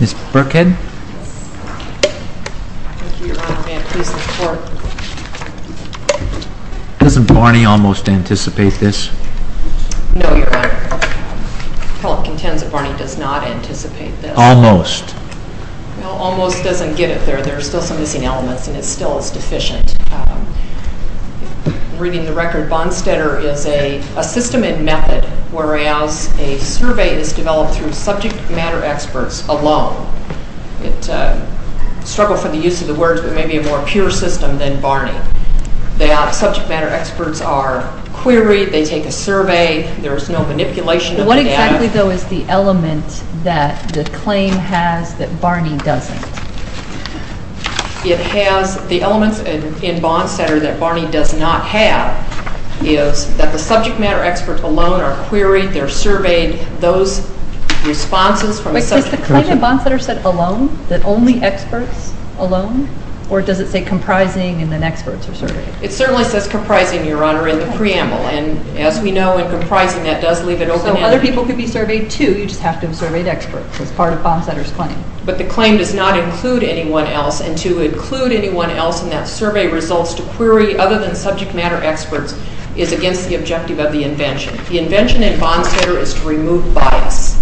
Ms. Birkhead? Thank you, Your Honor. May I please report? Doesn't Barney almost anticipate this? No, Your Honor. Appellant contends that Barney does not anticipate this. Almost. Well, almost doesn't get it there. There are still some missing elements, and it's still as deficient. Reading the record, Bonnstetter is a system and method, whereas a survey is developed through subject matter experts alone. It's a struggle for the use of the words, but maybe a more pure system than Barney. That subject matter experts are queried, they take a survey, there's no manipulation of the data. What exactly, though, is the element that the claim has that Barney doesn't? It has the elements in Bonnstetter that Barney does not have is that the subject matter experts alone are queried, they're surveyed. But is the claim in Bonnstetter said alone, that only experts alone, or does it say comprising and then experts are surveyed? It certainly says comprising, Your Honor, in the preamble, and as we know, in comprising, that does leave it open-ended. So other people could be surveyed too, you just have to have surveyed experts as part of Bonnstetter's claim. But the claim does not include anyone else, and to include anyone else in that survey results to query other than subject matter experts is against the objective of the invention. The invention in Bonnstetter is to remove bias,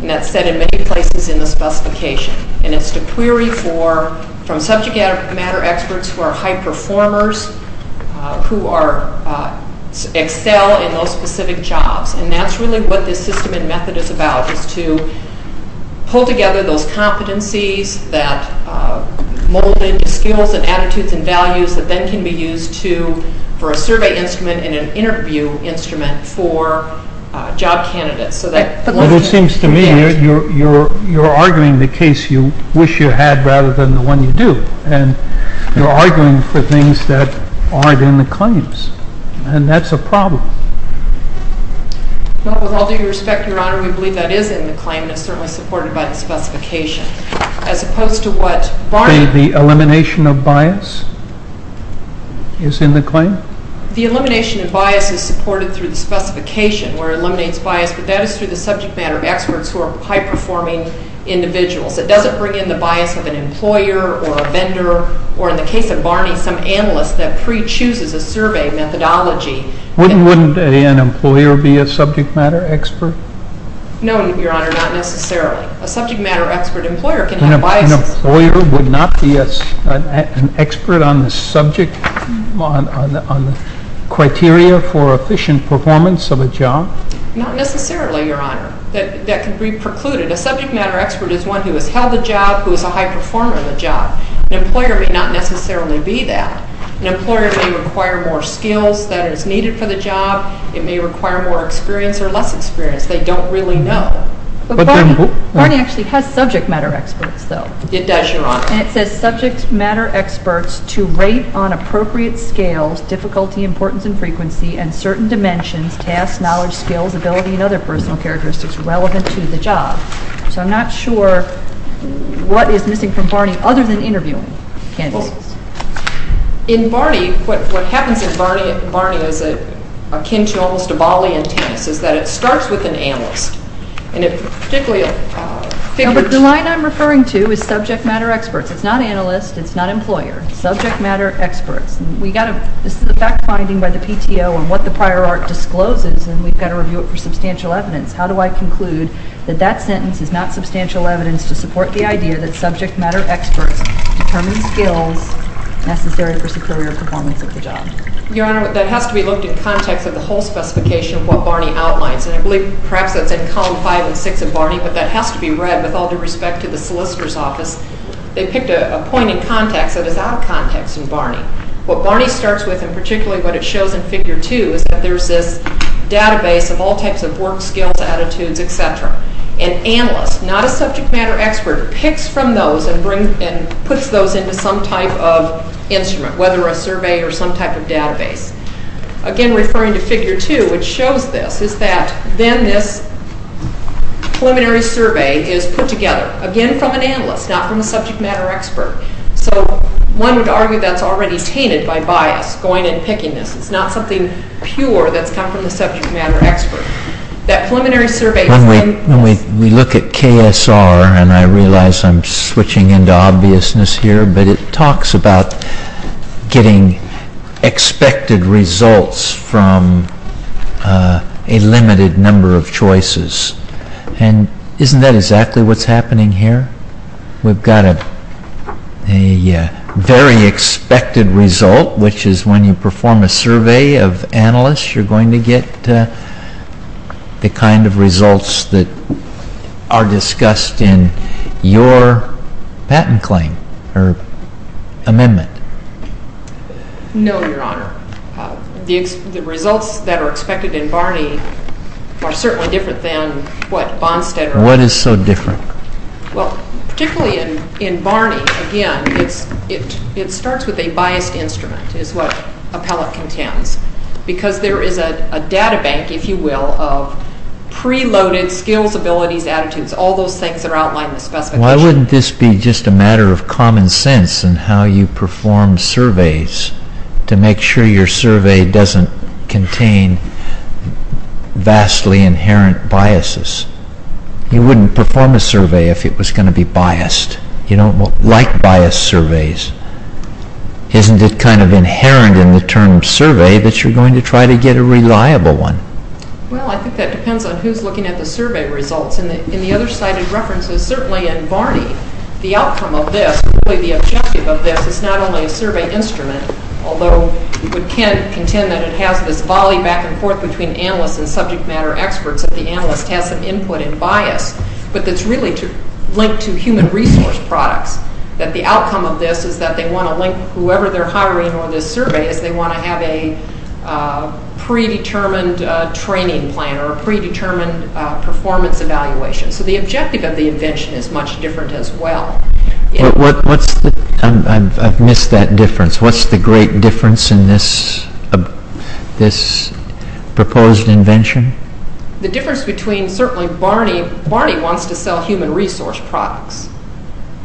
and that's said in many places in the specification. And it's to query from subject matter experts who are high performers, who excel in those specific jobs. And that's really what this system and method is about, is to pull together those competencies that mold into skills and attitudes and values that then can be used for a survey instrument and an interview instrument for job candidates. But it seems to me you're arguing the case you wish you had rather than the one you do, and you're arguing for things that aren't in the claims, and that's a problem. Well, with all due respect, Your Honor, we believe that is in the claim, and it's certainly supported by the specification. The elimination of bias is in the claim? The elimination of bias is supported through the specification, where it eliminates bias, but that is through the subject matter experts who are high-performing individuals. It doesn't bring in the bias of an employer or a vendor, or in the case of Barney, some analyst that pre-chooses a survey methodology. Wouldn't an employer be a subject matter expert? No, Your Honor, not necessarily. A subject matter expert employer can have biases. An employer would not be an expert on the subject, on the criteria for efficient performance of a job? Not necessarily, Your Honor. That can be precluded. A subject matter expert is one who has held the job, who is a high performer of the job. An employer may not necessarily be that. An employer may require more skills than is needed for the job. It may require more experience or less experience. They don't really know. But Barney actually has subject matter experts, though. It does, Your Honor. And it says subject matter experts to rate on appropriate scales, difficulty, importance, and frequency, and certain dimensions, tasks, knowledge, skills, ability, and other personal characteristics relevant to the job. So I'm not sure what is missing from Barney other than interviewing candidates. Well, in Barney, what happens in Barney is akin to almost a Bali in tennis, is that it starts with an analyst. And it particularly figures... No, but the line I'm referring to is subject matter experts. It's not analyst. It's not employer. Subject matter experts. This is a fact-finding by the PTO on what the prior art discloses, and we've got to review it for substantial evidence. How do I conclude that that sentence is not substantial evidence to support the idea that subject matter experts determine skills necessary for superior performance of the job? Your Honor, that has to be looked at in context of the whole specification of what Barney outlines. And I believe perhaps that's in column 5 and 6 of Barney, but that has to be read with all due respect to the solicitor's office. They picked a point in context that is out of context in Barney. What Barney starts with, and particularly what it shows in figure 2, is that there's this database of all types of work skills, attitudes, etc. An analyst, not a subject matter expert, picks from those and puts those into some type of instrument, whether a survey or some type of database. Again, referring to figure 2, which shows this, is that then this preliminary survey is put together, again from an analyst, not from a subject matter expert. So one would argue that's already tainted by bias, going and picking this. It's not something pure that's come from the subject matter expert. When we look at KSR, and I realize I'm switching into obviousness here, but it talks about getting expected results from a limited number of choices. And isn't that exactly what's happening here? We've got a very expected result, which is when you perform a survey of analysts, you're going to get the kind of results that are discussed in your patent claim or amendment. No, Your Honor. The results that are expected in Barney are certainly different than what Bonsted or others... Your Honor, what is so different? Well, particularly in Barney, again, it starts with a biased instrument, is what Appellate contends, because there is a data bank, if you will, of preloaded skills, abilities, attitudes, all those things that are outlined in the specification. Why wouldn't this be just a matter of common sense in how you perform surveys to make sure your survey doesn't contain vastly inherent biases? You wouldn't perform a survey if it was going to be biased. You don't like biased surveys. Isn't it kind of inherent in the term survey that you're going to try to get a reliable one? Well, I think that depends on who's looking at the survey results. In the other cited references, certainly in Barney, the outcome of this, really the objective of this is not only a survey instrument, although you can't contend that it has this volley back and forth between analysts and subject matter experts, that the analyst has some input and bias, but that's really linked to human resource products, that the outcome of this is that they want to link whoever they're hiring or this survey is they want to have a predetermined training plan or a predetermined performance evaluation. So the objective of the invention is much different as well. I've missed that difference. What's the great difference in this proposed invention? The difference between certainly Barney, Barney wants to sell human resource products.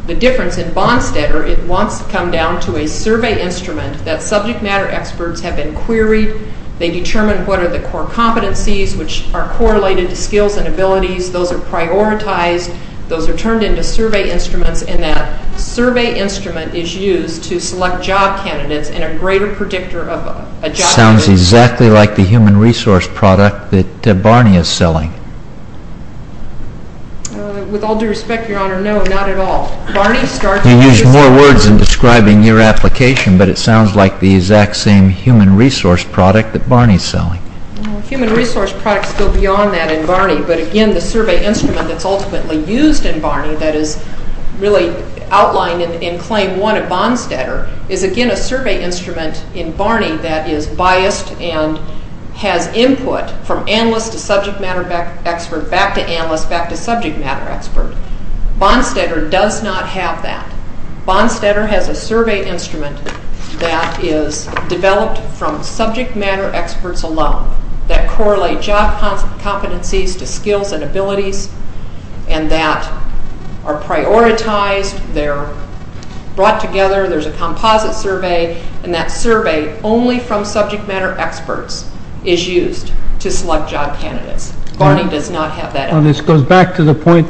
The difference in Bonstetter, it wants to come down to a survey instrument that subject matter experts have been queried. They determine what are the core competencies, which are correlated to skills and abilities. Those are prioritized. Those are turned into survey instruments and that survey instrument is used to select job candidates and a greater predictor of a job. It sounds exactly like the human resource product that Barney is selling. With all due respect, Your Honor, no, not at all. Barney started... You use more words in describing your application, but it sounds like the exact same human resource product that Barney is selling. Human resource products go beyond that in Barney, but again the survey instrument that's ultimately used in Barney that is really outlined in Claim 1 of Bonstetter is again a survey instrument in Barney that is biased and has input from analyst to subject matter expert, back to analyst, back to subject matter expert. Bonstetter does not have that. Bonstetter has a survey instrument that is developed from subject matter experts alone that correlate job competencies to skills and abilities and that are prioritized. They're brought together. There's a composite survey and that survey only from subject matter experts is used to select job candidates. Barney does not have that. This goes back to the point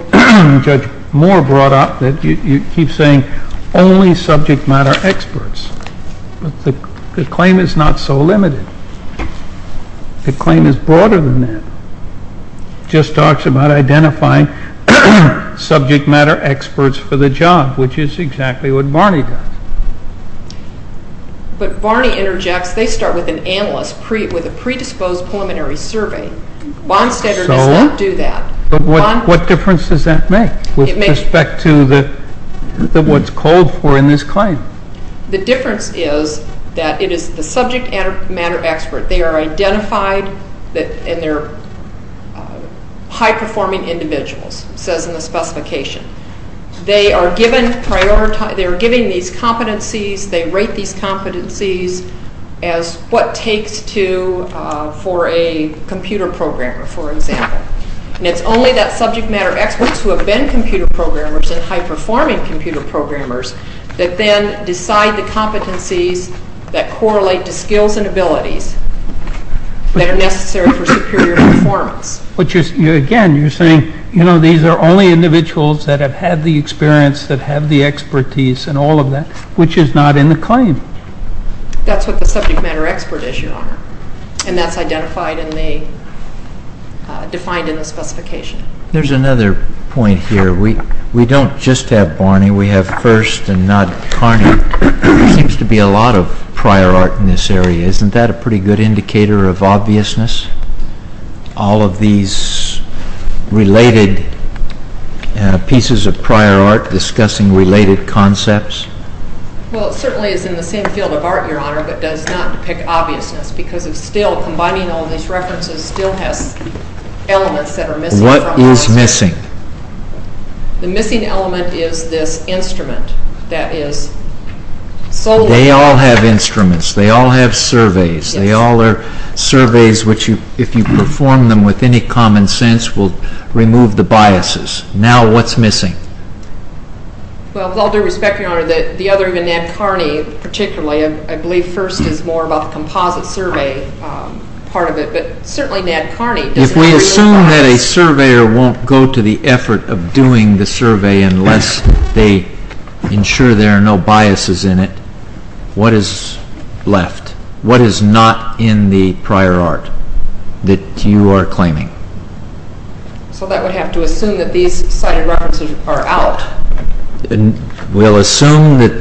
Judge Moore brought up that you keep saying only subject matter experts. The claim is not so limited. The claim is broader than that. It just talks about identifying subject matter experts for the job, which is exactly what Barney does. But Barney interjects, they start with an analyst with a predisposed preliminary survey. Bonstetter does not do that. But what difference does that make with respect to what's called for in this claim? The difference is that it is the subject matter expert. They are identified and they're high-performing individuals, says in the specification. They are given these competencies. They rate these competencies as what takes for a computer programmer, for example. And it's only that subject matter experts who have been computer programmers and high-performing computer programmers that then decide the competencies that correlate to skills and abilities that are necessary for superior performance. Again, you're saying these are only individuals that have had the experience, that have the expertise and all of that, which is not in the claim. That's what the subject matter expert is, Your Honor. And that's identified and defined in the specification. There's another point here. We don't just have Barney. We have First and not Carney. There seems to be a lot of prior art in this area. Isn't that a pretty good indicator of obviousness? All of these related pieces of prior art discussing related concepts? Well, it certainly is in the same field of art, Your Honor, but does not depict obviousness because combining all these references still has elements that are missing. What is missing? The missing element is this instrument that is solely… They all have instruments. They all have surveys. They all are surveys which, if you perform them with any common sense, will remove the biases. Now what's missing? Well, with all due respect, Your Honor, the other, even Ned Carney particularly, I believe First is more about the composite survey part of it, but certainly Ned Carney doesn't… If we assume that a surveyor won't go to the effort of doing the survey unless they ensure there are no biases in it, what is left? What is not in the prior art that you are claiming? So that would have to assume that these cited references are out. We'll assume that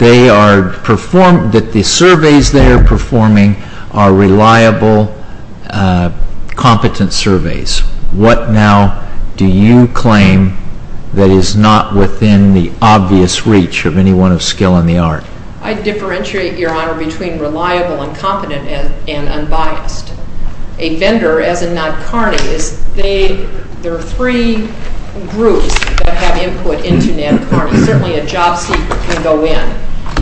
the surveys they are performing are reliable, competent surveys. What now do you claim that is not within the obvious reach of anyone of skill in the art? I differentiate, Your Honor, between reliable and competent and unbiased. A vendor, as in Ned Carney, is they… There are three groups that have input into Ned Carney. Certainly a job seeker can go in.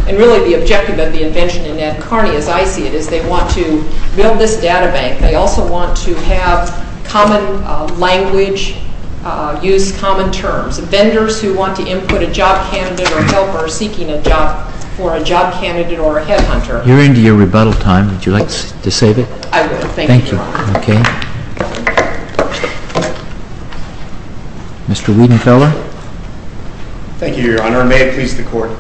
And really the objective of the invention in Ned Carney, as I see it, is they want to build this data bank. They also want to have common language, use common terms. Vendors who want to input a job candidate or helper seeking a job for a job candidate or a headhunter. You're into your rebuttal time. Would you like to save it? I would. Thank you, Your Honor. Thank you. Okay. Mr. Wiedenfeller. Thank you, Your Honor, and may it please the Court.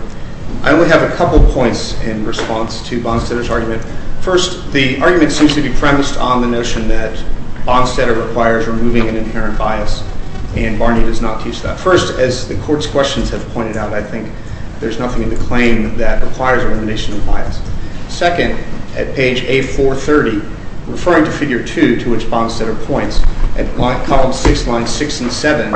I only have a couple of points in response to Bonstetter's argument. First, the argument seems to be premised on the notion that Bonstetter requires removing an inherent bias, and Barney does not teach that. First, as the Court's questions have pointed out, I think there's nothing in the claim that requires elimination of bias. Second, at page A430, referring to figure 2 to which Bonstetter points, at columns 6, lines 6 and 7,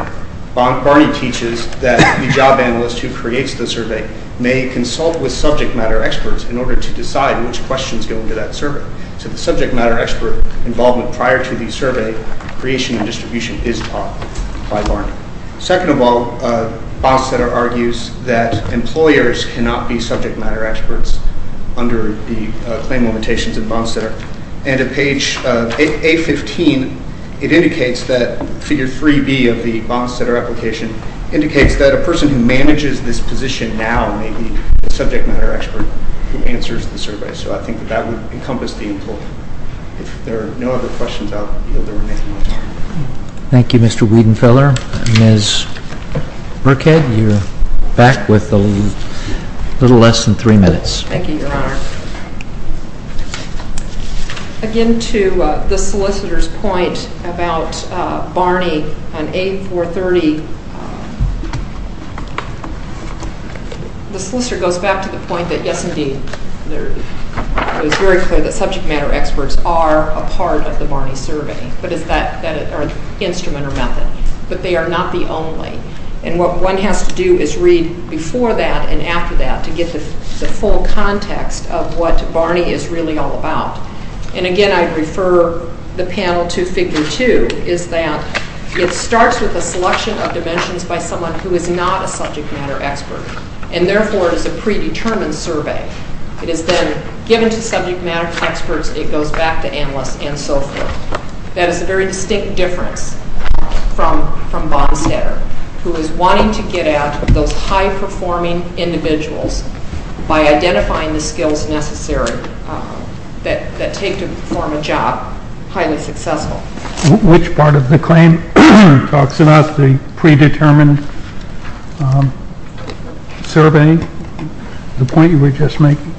Barney teaches that the job analyst who creates the survey may consult with subject matter experts in order to decide which questions go into that survey. So the subject matter expert involvement prior to the survey creation and distribution is taught by Barney. Second of all, Bonstetter argues that employers cannot be subject matter experts under the claim limitations of Bonstetter. And at page A15, it indicates that figure 3B of the Bonstetter application indicates that a person who manages this position now may be the subject matter expert who answers the survey. So I think that that would encompass the inquiry. If there are no other questions, I'll yield the remaining time. Thank you, Mr. Wiedenfeller. Ms. Birkhead, you're back with a little less than three minutes. Thank you, Your Honor. Again, to the solicitor's point about Barney and A430, the solicitor goes back to the point that, yes, indeed, it is very clear that subject matter experts are a part of the Barney survey, but is that an instrument or method, but they are not the only. And what one has to do is read before that and after that to get the full context of what Barney is really all about. And again, I refer the panel to figure 2, is that it starts with a selection of dimensions by someone who is not a subject matter expert, and therefore it is a predetermined survey. It is then given to subject matter experts. It goes back to analysts and so forth. That is a very distinct difference from Bonstetter, who is wanting to get at those high-performing individuals by identifying the skills necessary that take to perform a job highly successful. Which part of the claim talks about the predetermined survey, the point you were just making?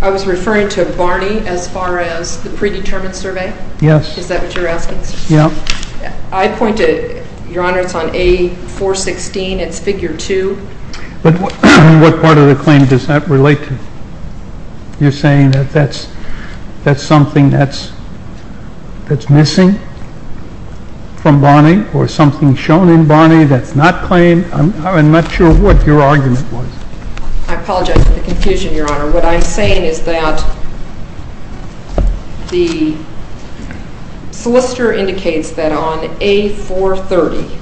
I was referring to Barney as far as the predetermined survey? Yes. Is that what you're asking? Yes. I point to, Your Honor, it's on A416. It's figure 2. But what part of the claim does that relate to? You're saying that that's something that's missing from Barney or something shown in Barney that's not claimed? I'm not sure what your argument was. I apologize for the confusion, Your Honor. What I'm saying is that the solicitor indicates that on A430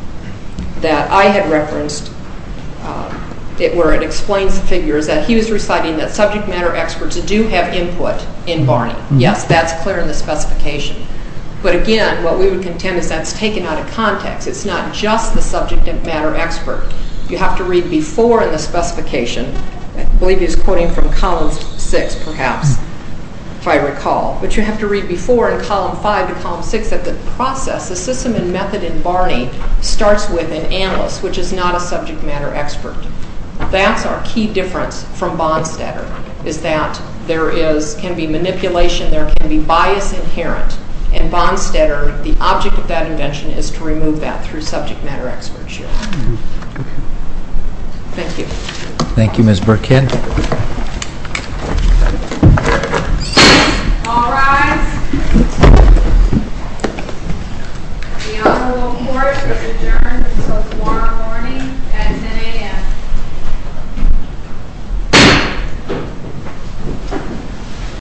that I had referenced, where it explains the figure, is that he was reciting that subject matter experts do have input in Barney. Yes, that's clear in the specification. But, again, what we would contend is that's taken out of context. It's not just the subject matter expert. You have to read before in the specification. I believe he's quoting from column 6, perhaps, if I recall. But you have to read before in column 5 to column 6 that the process, the system and method in Barney starts with an analyst, which is not a subject matter expert. That's our key difference from Bonstetter, is that there can be manipulation, there can be bias inherent, and Bonstetter, the object of that invention, is to remove that through subject matter experts, Your Honor. Thank you. Thank you, Ms. Burkitt. All rise. The Honorable Court is adjourned until tomorrow morning at 10 a.m.